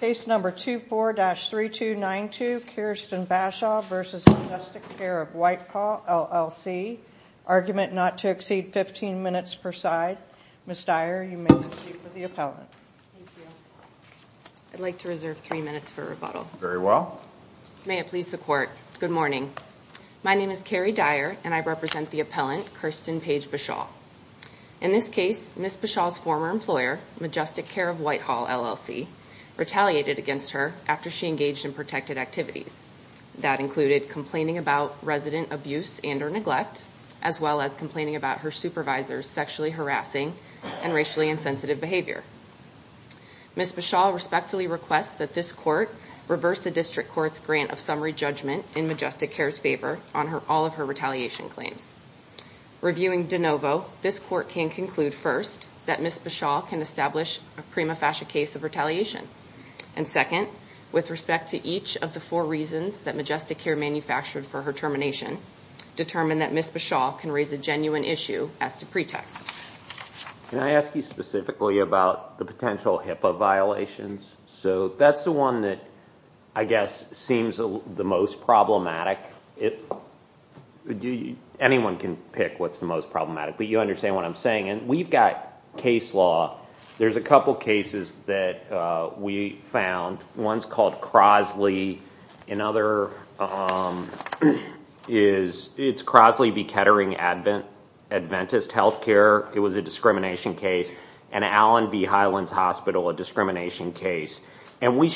Case No. 24-3292 Kirstyn Bashaw v. Majestic Care of Whitehall, LLC Argument not to exceed 15 minutes per side Ms. Dyer, you may proceed with the appellant I'd like to reserve three minutes for rebuttal Very well May it please the court Good morning My name is Carrie Dyer and I represent the appellant Kirstyn Paige Bashaw In this case, Ms. Bashaw's former employer, Majestic Care of Whitehall, LLC retaliated against her after she engaged in protected activities That included complaining about resident abuse and or neglect as well as complaining about her supervisor's sexually harassing and racially insensitive behavior Ms. Bashaw respectfully requests that this court reverse the district court's grant of summary judgment in Majestic Care's favor on all of her retaliation claims Reviewing de novo, this court can conclude first that Ms. Bashaw can establish a prima facie case of retaliation And second, with respect to each of the four reasons that Majestic Care manufactured for her termination determine that Ms. Bashaw can raise a genuine issue as to pretext Can I ask you specifically about the potential HIPAA violations? So that's the one that I guess seems the most problematic Anyone can pick what's the most problematic But you understand what I'm saying We've got case law There's a couple cases that we found One's called Crosley Another is it's Crosley v. Kettering Adventist Health Care It was a discrimination case And Allen v. Highlands Hospital, a discrimination case And we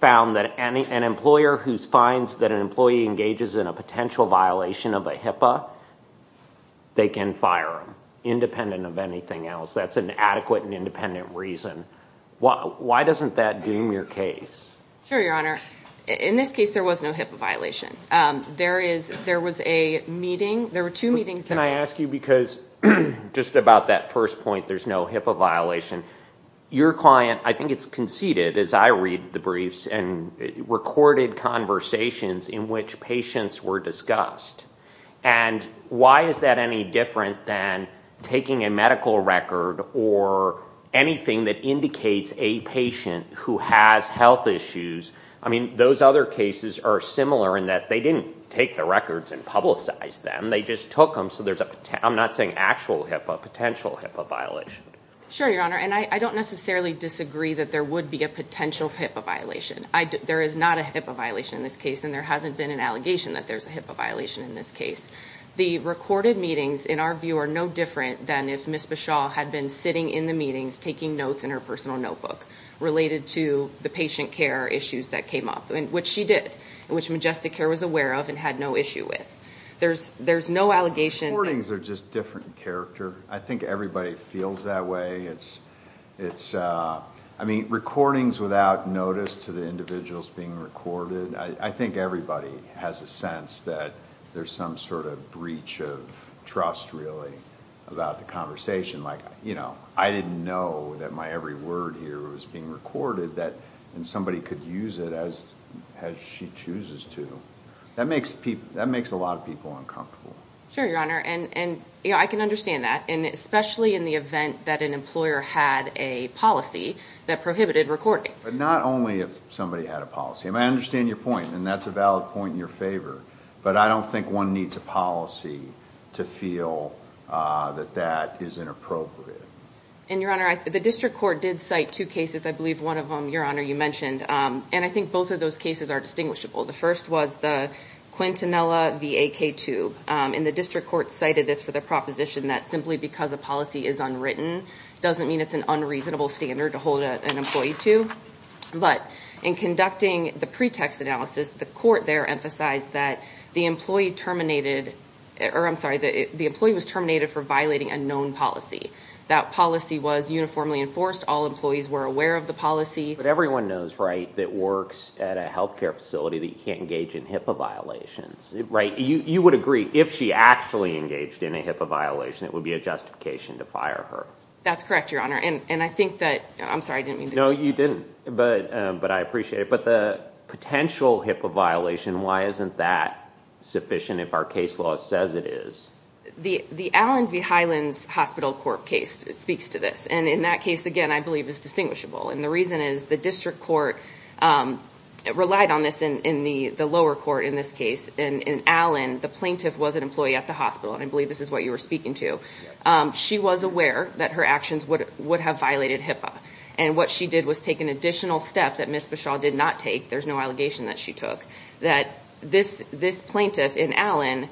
found that an employer who finds that an employee engages in a potential violation of a HIPAA, they can fire them That's an adequate and independent reason Why doesn't that doom your case? Sure, Your Honor In this case, there was no HIPAA violation There was a meeting There were two meetings Can I ask you because just about that first point There's no HIPAA violation Your client, I think it's conceded as I read the briefs and recorded conversations in which patients were discussed And why is that any different than taking a medical record or anything that indicates a patient who has health issues? I mean, those other cases are similar in that they didn't take the records and publicize them They just took them So there's a, I'm not saying actual HIPAA, potential HIPAA violation Sure, Your Honor And I don't necessarily disagree that there would be a potential HIPAA violation There is not a HIPAA violation in this case There hasn't been an allegation that there's a HIPAA violation in this case The recorded meetings, in our view, are no different than if Ms. Bashaw had been sitting in the meetings taking notes in her personal notebook related to the patient care issues that came up which she did in which Majestic Care was aware of and had no issue with There's no allegation Recordings are just different in character I think everybody feels that way I mean, recordings without notice to the individuals being recorded I think everybody has a sense that there's some sort of breach of trust, really, about the conversation I didn't know that my every word here was being recorded and somebody could use it as she chooses to That makes a lot of people uncomfortable Sure, Your Honor And I can understand that especially in the event that an employer had a policy that prohibited recording But not only if somebody had a policy And I understand your point And that's a valid point in your favor But I don't think one needs a policy to feel that that is inappropriate And, Your Honor, the District Court did cite two cases I believe one of them, Your Honor, you mentioned And I think both of those cases are distinguishable The first was the Quintanilla V.A.K. 2 And the District Court cited this for the proposition that simply because a policy is unwritten doesn't mean it's an unreasonable standard to hold an employee to But in conducting the pretext analysis the court there emphasized that the employee terminated or, I'm sorry, the employee was terminated for violating a known policy That policy was uniformly enforced All employees were aware of the policy But everyone knows, right, that works at a healthcare facility that you can't engage in HIPAA violations, right? You would agree if she actually engaged in a HIPAA violation it would be a justification to fire her That's correct, Your Honor And I think that I'm sorry, I didn't mean to No, you didn't, but I appreciate it But the potential HIPAA violation, why isn't that sufficient if our case law says it is? The Allen v. Highlands Hospital Court case speaks to this And in that case, again, I believe is distinguishable And the reason is the District Court relied on this in the lower court in this case And in Allen, the plaintiff was an employee at the hospital And I believe this is what you were speaking to She was aware that her actions would have violated HIPAA And what she did was take an additional step that Ms. Bashaw did not take There's no allegation that she took That this plaintiff in Allen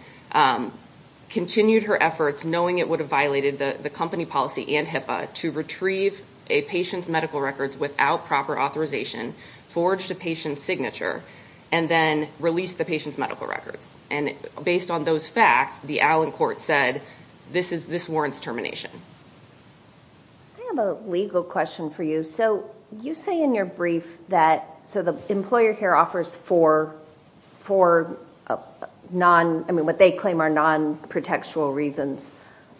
continued her efforts knowing it would have violated the company policy and HIPAA to retrieve a patient's medical records without proper authorization forge the patient's signature and then release the patient's medical records And based on those facts, the Allen court said this warrants termination I have a legal question for you So you say in your brief that So the employer here offers for non I mean, what they claim are non-protectual reasons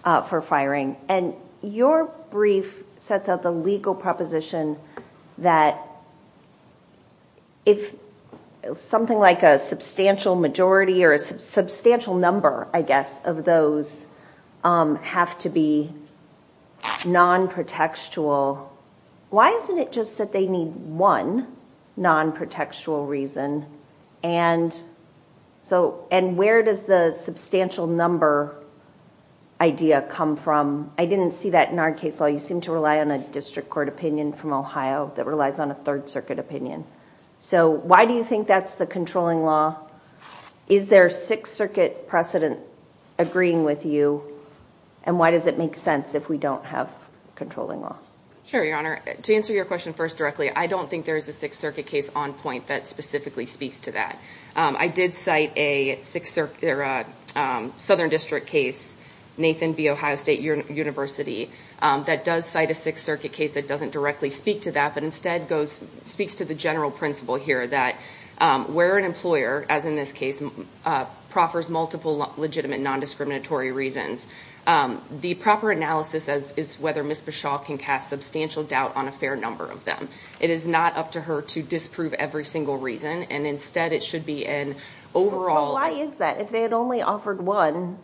for firing And your brief sets out the legal proposition that if something like a substantial majority or a substantial number, I guess, of those have to be non-protectual Why isn't it just that they need one non-protectual reason? And so and where does the substantial number idea come from? I didn't see that in our case While you seem to rely on a district court opinion from Ohio that relies on a third circuit opinion So why do you think that's the controlling law? Is there a Sixth Circuit precedent agreeing with you? And why does it make sense if we don't have controlling law? Sure, Your Honor To answer your question first directly I don't think there is a Sixth Circuit case on point that specifically speaks to that I did cite a Southern District case Nathan v. Ohio State University that does cite a Sixth Circuit case that doesn't directly speak to that but instead goes speaks to the general principle here Where an employer, as in this case, proffers multiple legitimate non-discriminatory reasons the proper analysis is whether Ms. Bashaw can cast substantial doubt on a fair number of them It is not up to her to disprove every single reason and instead it should be an overall Why is that? If they had only offered one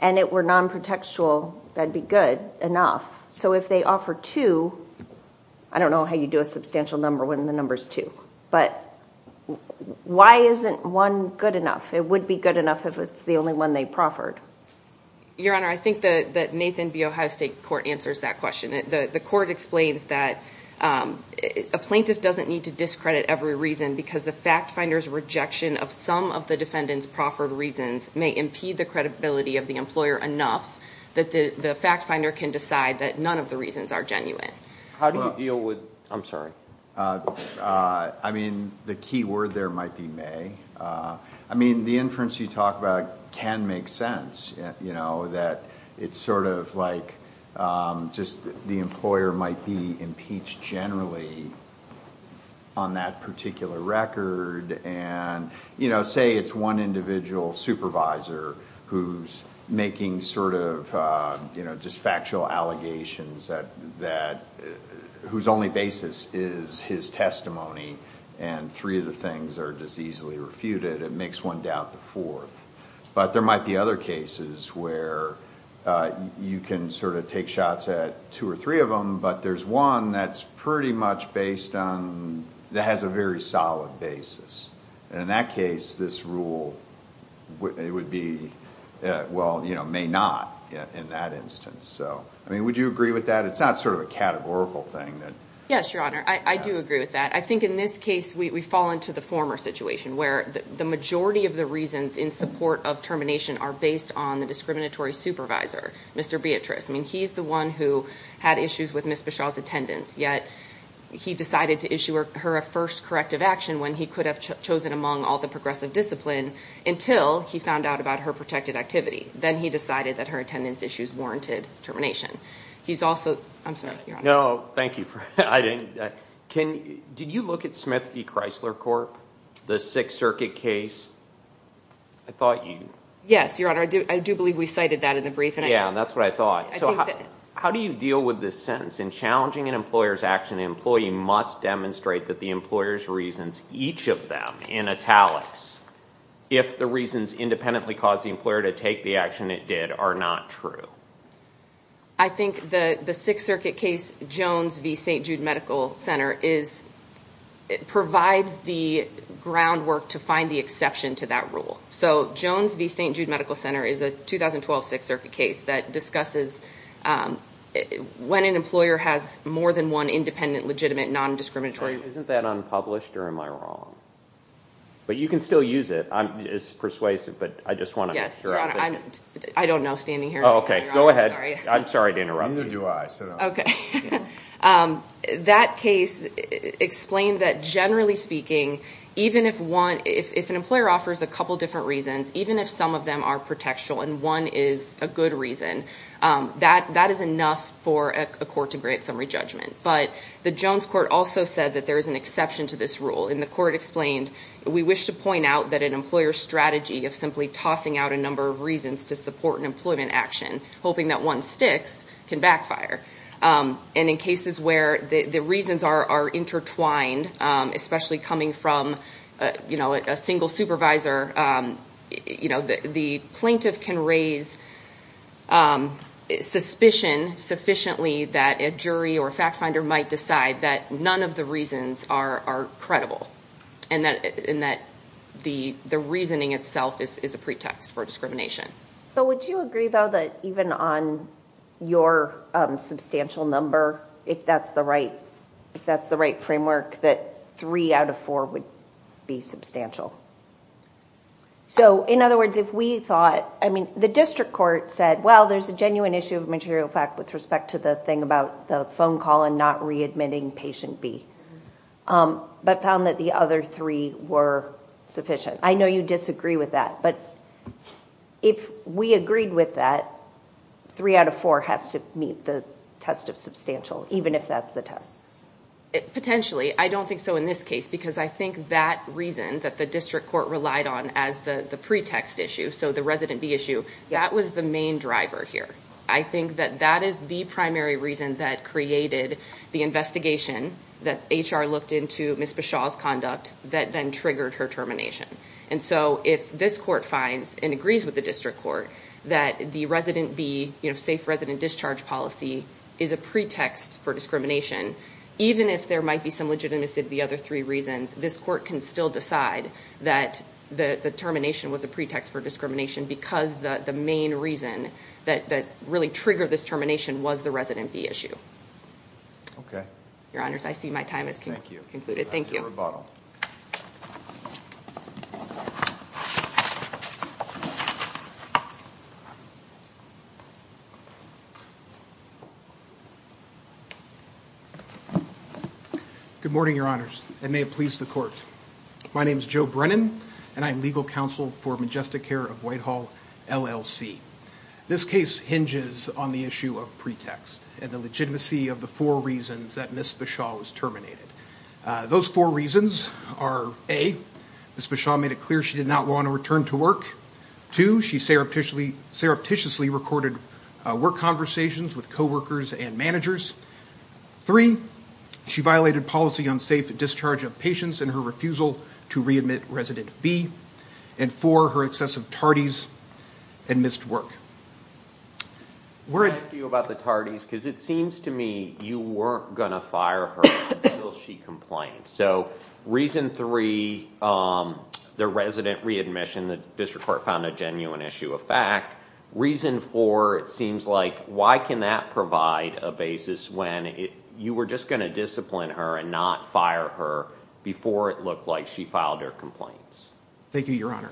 and it were non-protectual that'd be good enough So if they offer two I don't know how you do a substantial number when the number's two But why isn't one good enough? It would be good enough if it's the only one they proffered Your Honor, I think that Nathan v. Ohio State Court answers that question The court explains that a plaintiff doesn't need to discredit every reason because the fact finder's rejection of some of the defendant's proffered reasons may impede the credibility of the employer enough that the fact finder can decide that none of the reasons are genuine How do you deal with... I'm sorry The key word there might be may The inference you talk about can make sense that it's sort of like the employer might be impeached generally on that particular record and say it's one individual supervisor who's making just factual allegations whose only basis is his testimony and three of the things are just easily refuted It makes one doubt the fourth But there might be other cases where you can sort of take shots at two or three of them but there's one that's pretty much based on... that has a very solid basis And in that case, this rule would be... well, you know, may not in that instance So I mean, would you agree with that? It's not sort of a categorical thing Yes, Your Honor, I do agree with that I think in this case, we fall into the former situation where the majority of the reasons in support of termination are based on the discriminatory supervisor, Mr. Beatrice I mean, he's the one who had issues with Ms. Beshaw's attendance Yet he decided to issue her a first corrective action when he could have chosen among all the progressive discipline until he found out about her protected activity Then he decided that her attendance issues warranted termination He's also... I'm sorry, Your Honor No, thank you, I didn't Can... Did you look at Smith v. Chrysler Corp? The Sixth Circuit case? I thought you... Yes, Your Honor, I do believe we cited that in the brief Yeah, that's what I thought So how do you deal with this sentence? In challenging an employer's action, the employee must demonstrate that the employer's reasons each of them in italics if the reasons independently caused the employer to take the action it did are not true I think the Sixth Circuit case Jones v. St. Jude Medical Center is... It provides the groundwork to find the exception to that rule So Jones v. St. Jude Medical Center is a 2012 Sixth Circuit case that discusses when an employer has more than one independent, legitimate, non-discriminatory... Isn't that unpublished or am I wrong? But you can still use it I'm just persuasive, but I just want to... Yes, Your Honor, I don't know standing here Oh, okay, go ahead I'm sorry to interrupt you Neither do I, so... Okay, that case explained that generally speaking even if an employer offers a couple different reasons even if some of them are protectual and one is a good reason that is enough for a court to grant summary judgment but the Jones court also said that there is an exception to this rule and the court explained we wish to point out that an employer's strategy of simply tossing out a number of reasons to support an employment action hoping that one sticks can backfire and in cases where the reasons are intertwined especially coming from a single supervisor the plaintiff can raise suspicion sufficiently that a jury or a fact finder might decide that none of the reasons are credible and that the reasoning itself is a pretext for discrimination So would you agree though even on your substantial number if that's the right framework that three out of four would be substantial? So in other words, if we thought... I mean, the district court said well, there's a genuine issue of material fact with respect to the thing about the phone call and not readmitting patient B but found that the other three were sufficient I know you disagree with that but if we agreed with that three out of four has to meet the test of substantial even if that's the test Potentially, I don't think so in this case because I think that reason that the district court relied on as the pretext issue so the resident B issue that was the main driver here I think that that is the primary reason that created the investigation that HR looked into Ms. Bashaw's conduct that then triggered her termination And so if this court finds and agrees with the district court that the resident B safe resident discharge policy is a pretext for discrimination even if there might be some legitimacy of the other three reasons this court can still decide that the termination was a pretext for discrimination because the main reason that really triggered this termination was the resident B issue Okay Your honors, I see my time has concluded Thank you Good morning, your honors and may it please the court My name is Joe Brennan and I'm legal counsel for Majestic Care of Whitehall LLC This case hinges on the issue of pretext and the legitimacy of the four reasons that Ms. Bashaw was terminated Those four reasons are A, Ms. Bashaw made it clear she did not want to return to work Two, she surreptitiously recorded work conversations with co-workers and managers Three, she violated policy on safe discharge of patients and her refusal to readmit resident B And four, her excessive tardies and missed work We're gonna ask you about the tardies because it seems to me you weren't gonna fire her until she complained So reason three, the resident readmission the district court found a genuine issue of fact Reason four, it seems like why can that provide a basis when you were just gonna discipline her and not fire her before it looked like she filed her complaints Thank you, your honor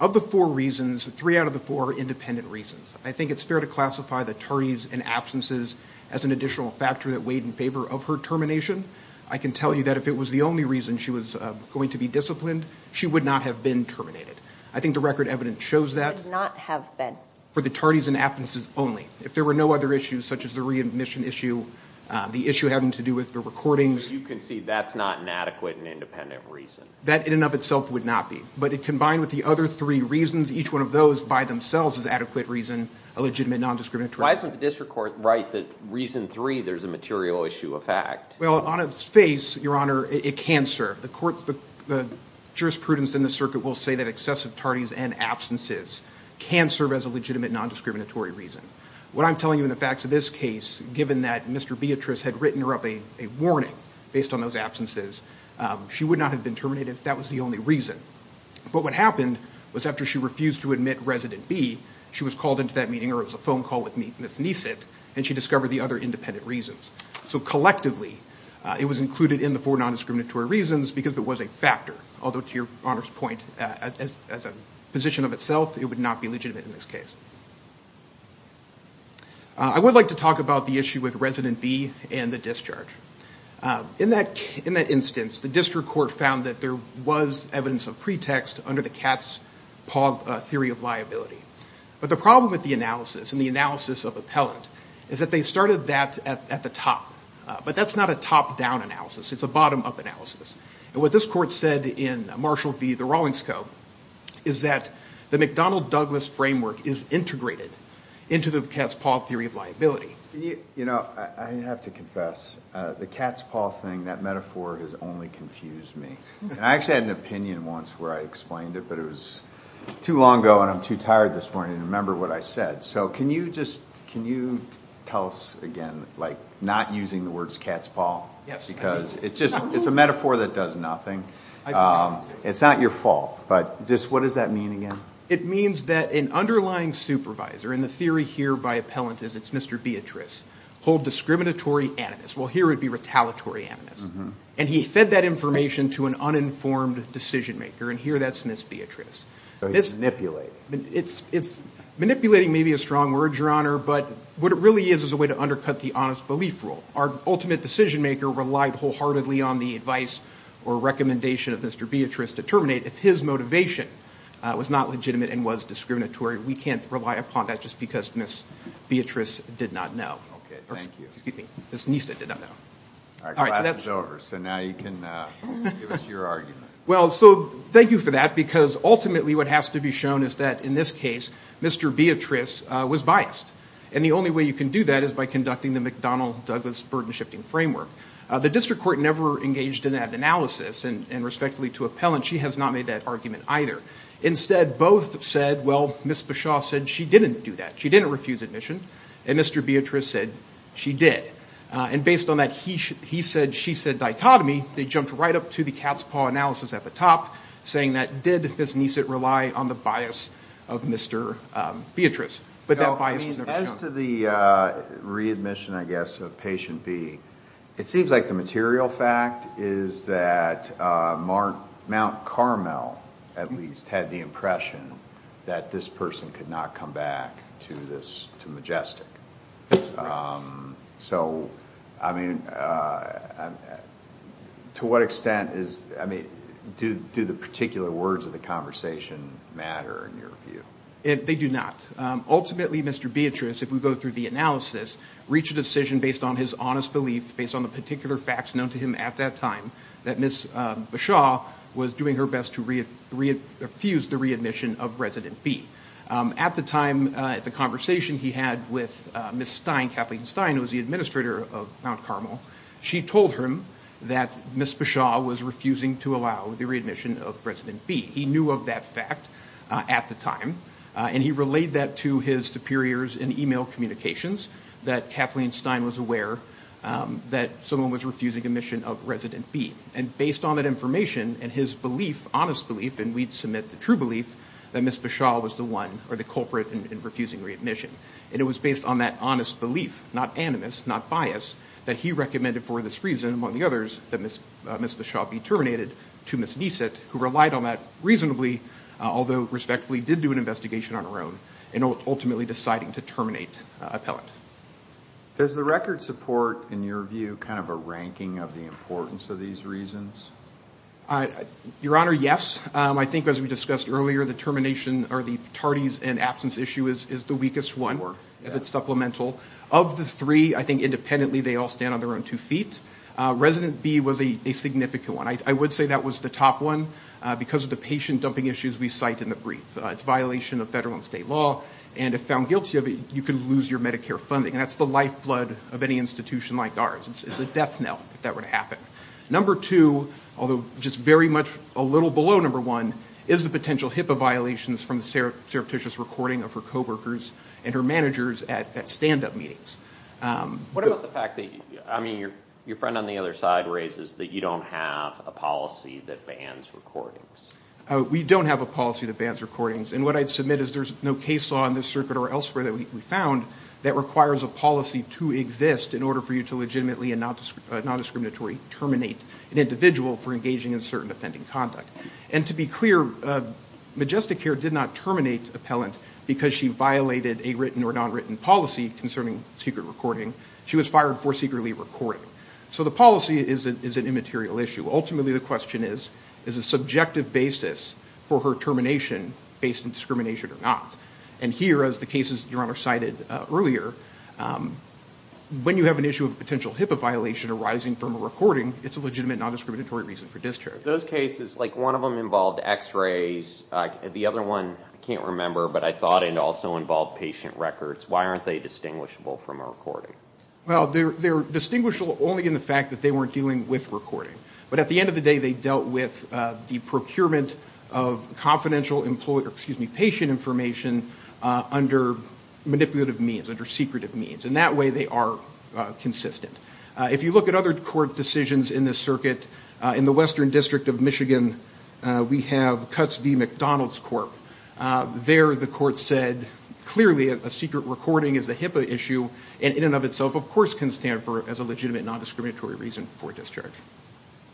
Of the four reasons three out of the four are independent reasons I think it's fair to classify the tardies and absences as an additional factor that weighed in favor of her termination I can tell you that if it was the only reason she was going to be disciplined she would not have been terminated I think the record evidence shows that for the tardies and absences only If there were no other issues such as the readmission issue the issue having to do with the recordings You concede that's not an adequate and independent reason That in and of itself would not be But it combined with the other three reasons each one of those by themselves is adequate reason a legitimate non-discriminatory Why isn't the district court right that reason three there's a material issue of fact On its face, your honor It can serve The jurisprudence in the circuit will say that excessive tardies and absences can serve as a legitimate non-discriminatory reason What I'm telling you in the facts of this case given that Mr. Beatrice had written her up a warning based on those absences She would not have been terminated if that was the only reason But what happened was after she refused to admit resident B she was called into that meeting or it was a phone call with Ms. Niset and she discovered the other independent reasons So collectively it was included in the four non-discriminatory reasons because it was a factor Although to your honor's point as a position of itself it would not be legitimate in this case I would like to talk about the issue with resident B and the discharge In that instance the district court found that there was evidence of pretext under the Katz-Paul theory of liability But the problem with the analysis and the analysis of appellant is that they started that at the top But that's not a top-down analysis It's a bottom-up analysis And what this court said in Marshall v. The Rawlings Co. is that the McDonnell-Douglas framework is integrated into the Katz-Paul theory of liability You know, I have to confess the Katz-Paul thing that metaphor has only confused me And I actually had an opinion once where I explained it but it was too long ago and I'm too tired this morning to remember what I said So can you just, can you tell us again like not using the words Katz-Paul? Yes Because it's just, it's a metaphor that does nothing It's not your fault But just what does that mean again? It means that an underlying supervisor in the theory here by appellant is it's Mr. Beatrice hold discriminatory animus Well, here it'd be retaliatory animus And he fed that information to an uninformed decision-maker And here that's Ms. Beatrice So he's manipulating It's manipulating maybe a strong word, Your Honor But what it really is is a way to undercut the honest belief rule Our ultimate decision-maker relied wholeheartedly on the advice or recommendation of Mr. Beatrice to terminate if his motivation was not legitimate and was discriminatory We can't rely upon that just because Ms. Beatrice did not know Okay, thank you Excuse me, Ms. Nista did not know All right, class is over So now you can give us your argument Well, so thank you for that because ultimately what has to be shown is that in this case Mr. Beatrice was biased And the only way you can do that is by conducting the McDonnell-Douglas burden-shifting framework The district court never engaged in that analysis and respectfully to appellant she has not made that argument either Instead, both said Well, Ms. Bashaw said she didn't do that She didn't refuse admission And Mr. Beatrice said she did And based on that he said-she said dichotomy they jumped right up to the cat's paw analysis at the top saying that did Ms. Nista rely on the bias of Mr. Beatrice But that bias was never shown As to the readmission, I guess, of patient B it seems like the material fact is that Mount Carmel at least had the impression that this person could not come back to this-to Majestic So, I mean, to what extent is- do the particular words of the conversation matter in your view? They do not Ultimately, Mr. Beatrice if we go through the analysis reached a decision based on his honest belief based on the particular facts known to him at that time that Ms. Bashaw was doing her best to refuse the readmission of resident B At the time, at the conversation he had with Ms. Stein Kathleen Stein, who was the administrator of Mount Carmel She told him that Ms. Bashaw was refusing to allow the readmission of resident B He knew of that fact at the time And he relayed that to his superiors in email communications that Kathleen Stein was aware that someone was refusing a mission of resident B And based on that information and his belief, honest belief and we'd submit the true belief that Ms. Bashaw was the one or the culprit in refusing readmission And it was based on that honest belief not animus, not bias that he recommended for this reason that Ms. Bashaw be terminated to Ms. Niset who relied on that reasonably although respectfully did do an investigation on her own and ultimately deciding to terminate Appellant Does the record support, in your view kind of a ranking of the importance of these reasons? Your Honor, yes I think as we discussed earlier the termination or the tardies and absence issue is the weakest one as it's supplemental Of the three, I think independently they all stand on their own two feet Resident B was a significant one I would say that was the top one because of the patient dumping issues we cite in the brief It's violation of federal and state law and if found guilty of it you can lose your Medicare funding And that's the lifeblood of any institution like ours It's a death knell if that were to happen Number two, although just very much a little below number one is the potential HIPAA violations from the surreptitious recording of her co-workers and her managers at stand-up meetings What about the fact that, I mean your friend on the other side raises that you don't have a policy that bans recordings We don't have a policy that bans recordings and what I'd submit is there's no case law in this circuit or elsewhere that we found that requires a policy to exist in order for you to legitimately and non-discriminatory terminate an individual for engaging in certain offending conduct And to be clear Majesticare did not terminate Appellant because she violated a written or non-written policy concerning secret recording She was fired for secretly recording So the policy is an immaterial issue Ultimately the question is is a subjective basis for her termination based on discrimination or not And here as the cases your honor cited earlier when you have an issue of potential HIPAA violation arising from a recording it's a legitimate non-discriminatory reason for discharge Those cases, like one of them involved x-rays The other one, I can't remember but I thought it also involved patient records Why aren't they distinguishable from a recording? Well, they're distinguishable only in the fact that they weren't dealing with recording But at the end of the day they dealt with the procurement of confidential patient information under manipulative means under secretive means And that way they are consistent If you look at other court decisions in this circuit in the Western District of Michigan we have Cuts v. McDonald's Court There the court said clearly a secret recording is a HIPAA issue And in and of itself of course can stand for as a legitimate non-discriminatory reason for discharge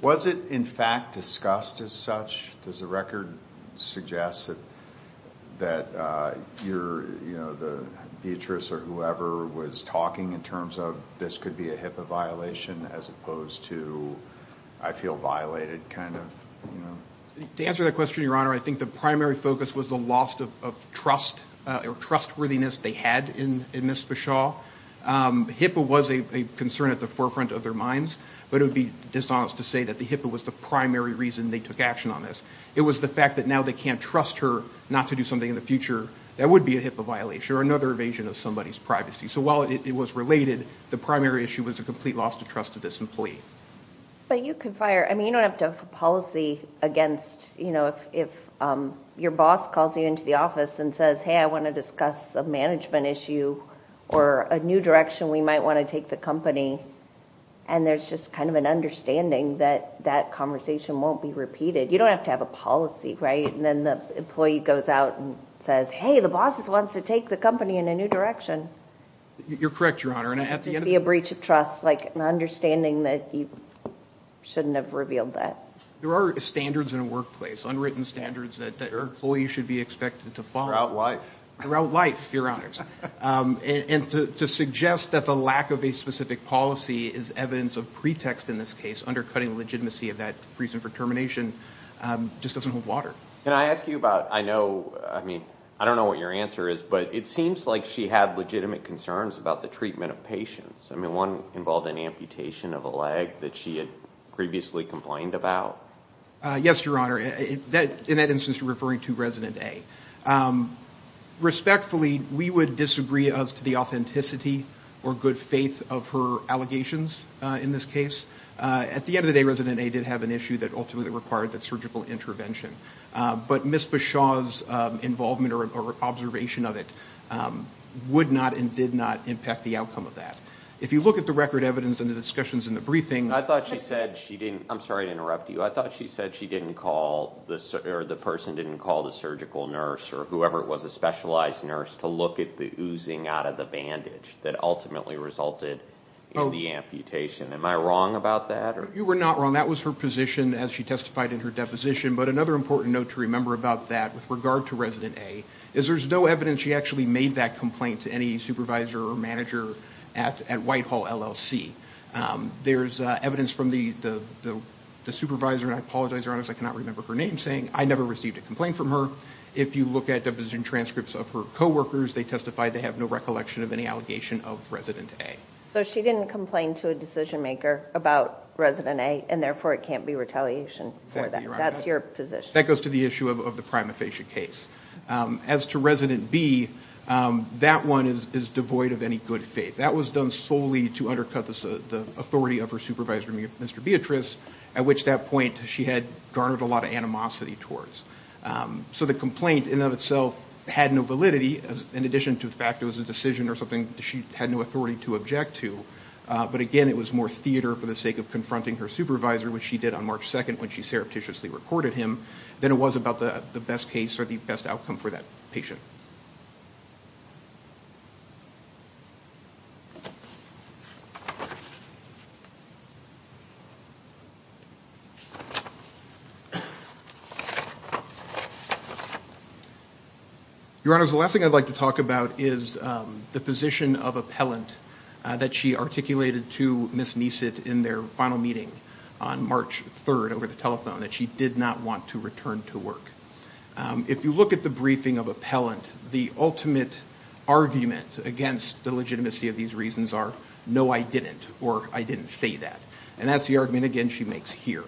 Was it in fact discussed as such? Does the record suggest that that Beatrice or whoever was talking in terms of this could be a HIPAA violation as opposed to I feel violated kind of? To answer that question, your honor I think the primary focus was the loss of trust or trustworthiness they had in Ms. Bashaw HIPAA was a concern at the forefront of their minds but it would be dishonest to say that the HIPAA was the primary reason they took action on this It was the fact that now they can't trust her not to do something in the future that would be a HIPAA violation or another evasion of somebody's privacy So while it was related the primary issue was a complete loss of trust of this employee But you could fire I mean, you don't have to have a policy against if your boss calls you into the office and says, hey, I want to discuss a management issue or a new direction we might want to take the company and there's just kind of an understanding that that conversation won't be repeated You don't have to have a policy, right? And then the employee goes out and says, hey, the boss wants to take the company in a new direction You're correct, your honor And I have to be a breach of trust like an understanding that you shouldn't have revealed that There are standards in a workplace unwritten standards that their employees should be expected to follow Throughout life Throughout life, your honors And to suggest that the lack of a specific policy is evidence of pretext in this case undercutting the legitimacy of that reason for termination just doesn't hold water Can I ask you about, I know, I mean I don't know what your answer is but it seems like she had legitimate concerns about the treatment of patients I mean, one involved an amputation of a leg that she had previously complained about Yes, your honor In that instance, you're referring to resident A Um, respectfully, we would disagree as to the authenticity or good faith of her allegations in this case At the end of the day, resident A did have an issue that ultimately required that surgical intervention But Ms. Bashaw's involvement or observation of it would not and did not impact the outcome of that If you look at the record evidence and the discussions in the briefing I thought she said she didn't I'm sorry to interrupt you I thought she said she didn't call or the person didn't call the surgical nurse or whoever it was, a specialized nurse to look at the oozing out of the bandage that ultimately resulted in the amputation Am I wrong about that? You were not wrong That was her position as she testified in her deposition But another important note to remember about that with regard to resident A is there's no evidence she actually made that complaint to any supervisor or manager at Whitehall LLC There's evidence from the supervisor and I apologize, your honor I cannot remember her name saying I never received a complaint from her If you look at deposition transcripts of her co-workers they testified they have no recollection of any allegation of resident A So she didn't complain to a decision maker about resident A and therefore it can't be retaliation Exactly, your honor That's your position That goes to the issue of the prima facie case As to resident B that one is devoid of any good faith That was done solely to undercut the authority of her supervisor, Mr. Beatrice at which that point she had garnered a lot of animosity towards So the complaint in and of itself had no validity in addition to the fact it was a decision or something she had no authority to object to But again, it was more theater for the sake of confronting her supervisor which she did on March 2nd when she surreptitiously reported him than it was about the best case or the best outcome for that patient Your honor, the last thing I'd like to talk about is the position of appellant that she articulated to Ms. Nesit in their final meeting on March 3rd over the telephone that she did not want to return to work If you look at the briefing of appellant the ultimate argument against the legitimacy of these reasons are No, I didn't or I didn't say that And that's the argument she makes here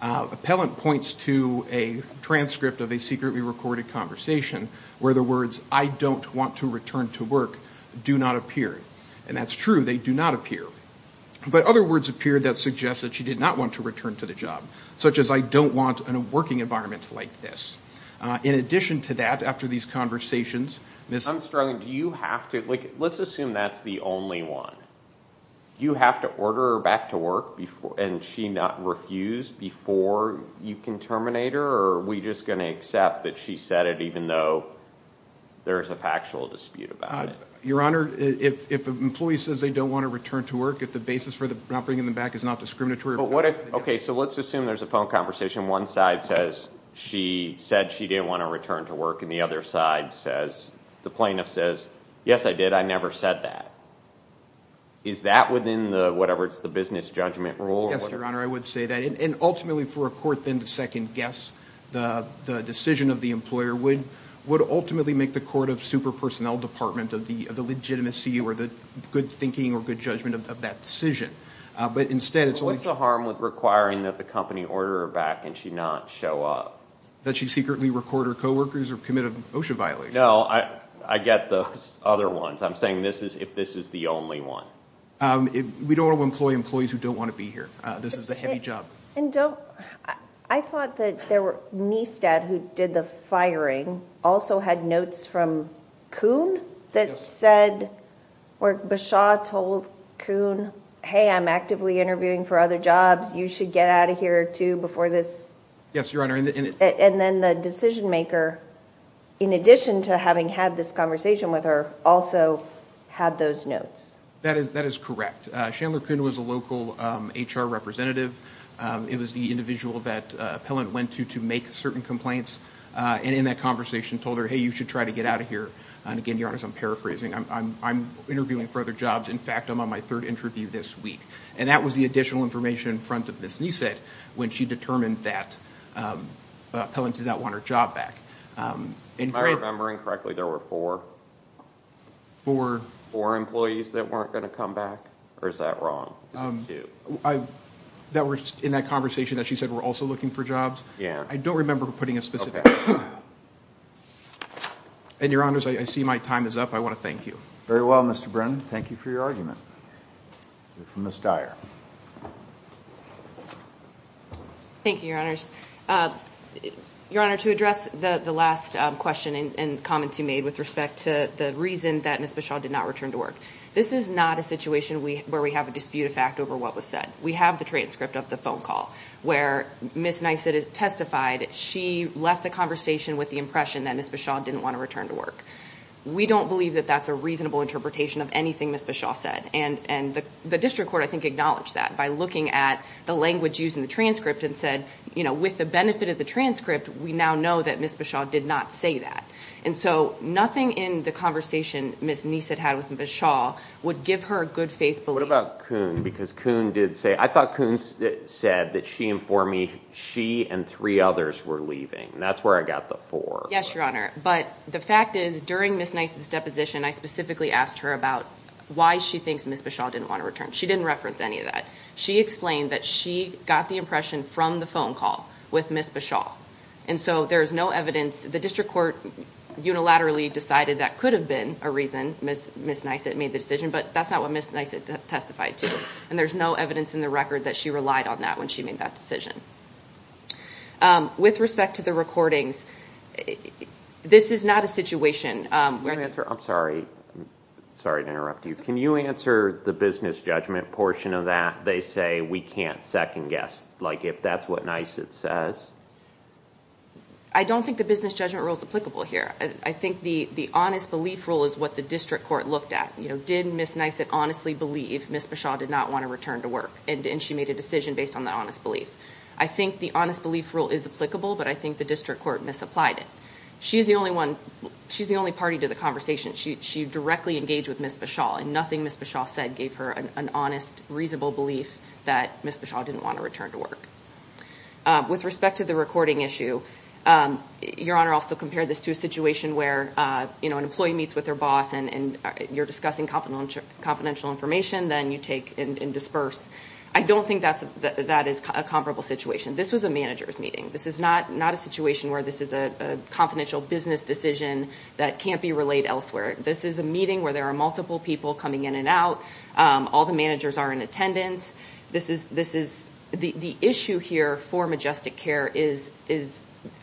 Appellant points to a transcript of a secretly recorded conversation where the words I don't want to return to work do not appear And that's true They do not appear But other words appear that suggest that she did not want to return to the job such as I don't want a working environment like this In addition to that after these conversations Ms. Armstrong, do you have to like let's assume that's the only one Do you have to order her back to work and she not refused before you can terminate her or are we just going to accept that she said it even though there's a factual dispute about it Your Honor, if an employee says they don't want to return to work if the basis for not bringing them back is not discriminatory But what if Okay, so let's assume there's a phone conversation One side says she said she didn't want to return to work and the other side says the plaintiff says Yes, I did I never said that Is that within the whatever it's the business judgment rule Yes, Your Honor, I would say that and ultimately for a court then to second guess the decision of the employer would ultimately make the court of super personnel department of the legitimacy or the good thinking or good judgment of that decision But instead it's only What's the harm with requiring that the company order her back and she not show up That she secretly record her co-workers or commit a motion violation No, I get the other ones I'm saying this is if this is the only one We don't want to employ employees who don't want to be here This is a heavy job And don't I thought that there were Neistat who did the firing also had notes from Kuhn that said or Bashaw told Kuhn Hey, I'm actively interviewing for other jobs You should get out of here too before this Yes, Your Honor And then the decision maker in addition to having had this conversation with her also had those notes That is correct Chandler Kuhn was a local HR representative It was the individual that Appellant went to to make certain complaints And in that conversation told her Hey, you should try to get out of here And again, Your Honor I'm paraphrasing I'm interviewing for other jobs In fact, I'm on my third interview this week And that was the additional information in front of Ms. Neistat when she determined that Appellant did not want her job back If I'm remembering correctly there were four Four Four employees that weren't going to come back Or is that wrong? That was in that conversation that she said we're also looking for jobs Yeah I don't remember putting a specific And Your Honors I see my time is up I want to thank you Very well, Mr. Brennan Thank you for your argument Ms. Dyer Thank you, Your Honors Your Honor, to address the last question and comments you made with respect to the reason that Ms. Bichaud did not return to work This is not a situation where we have a dispute of fact over what was said We have the transcript of the phone call where Ms. Neistat testified She left the conversation with the impression that Ms. Bichaud didn't want to return to work We don't believe that that's a reasonable interpretation of anything Ms. Bichaud said And the district court I think acknowledged that by looking at the language used in the transcript and said you know, with the benefit of the transcript we now know that Ms. Bichaud did not say that And so nothing in the conversation Ms. Neistat had with Ms. Bichaud would give her a good faith belief What about Kuhn? Because Kuhn did say I thought Kuhn said that she informed me she and three others were leaving That's where I got the four Yes, Your Honor But the fact is during Ms. Neistat's deposition I specifically asked her about why she thinks Ms. Bichaud didn't want to return She didn't reference any of that She explained that she got the impression from the phone call with Ms. Bichaud And so there's no evidence The district court unilaterally decided that could have been a reason Ms. Neistat made the decision But that's not what Ms. Neistat testified to And there's no evidence in the record that she relied on that when she made that decision With respect to the recordings this is not a situation I'm sorry Sorry to interrupt you Can you answer the business judgment portion of that they say we can't second guess like if that's what Neistat says I don't think the business judgment rule is applicable here I think the honest belief rule is what the district court looked at You know, did Ms. Neistat honestly believe Ms. Bichaud did not want to return to work And she made a decision based on the honest belief I think the honest belief rule is applicable But I think the district court misapplied it She's the only one She's the only party to the conversation She directly engaged with Ms. Bichaud And nothing Ms. Bichaud said gave her an honest reasonable belief that Ms. Bichaud didn't want to return to work With respect to the recording issue Your Honor also compared this to a situation where an employee meets with their boss and you're discussing confidential information then you take and disperse I don't think that is a comparable situation This was a manager's meeting This is not a situation where this is a confidential business decision that can't be relayed elsewhere This is a meeting where there are multiple people coming in and out All the managers are in attendance This is the issue here for Majestic Care is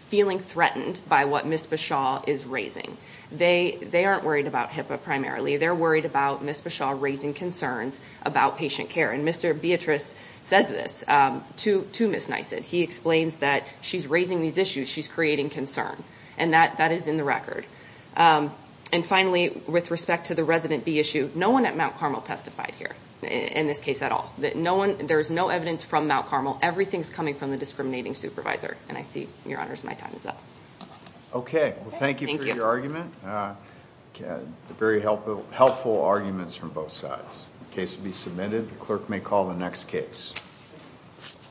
feeling threatened by what Ms. Bichaud is raising They aren't worried about HIPAA primarily They're worried about Ms. Bichaud raising concerns about patient care And Mr. Beatrice says this to Ms. Nysad He explains that she's raising these issues She's creating concern And that is in the record And finally with respect to the resident B issue No one at Mount Carmel testified here in this case at all There's no evidence from Mount Carmel Everything's coming from the discriminating supervisor And I see, your honors, my time is up Okay, thank you for your argument Very helpful arguments from both sides Case to be submitted The clerk may call the next case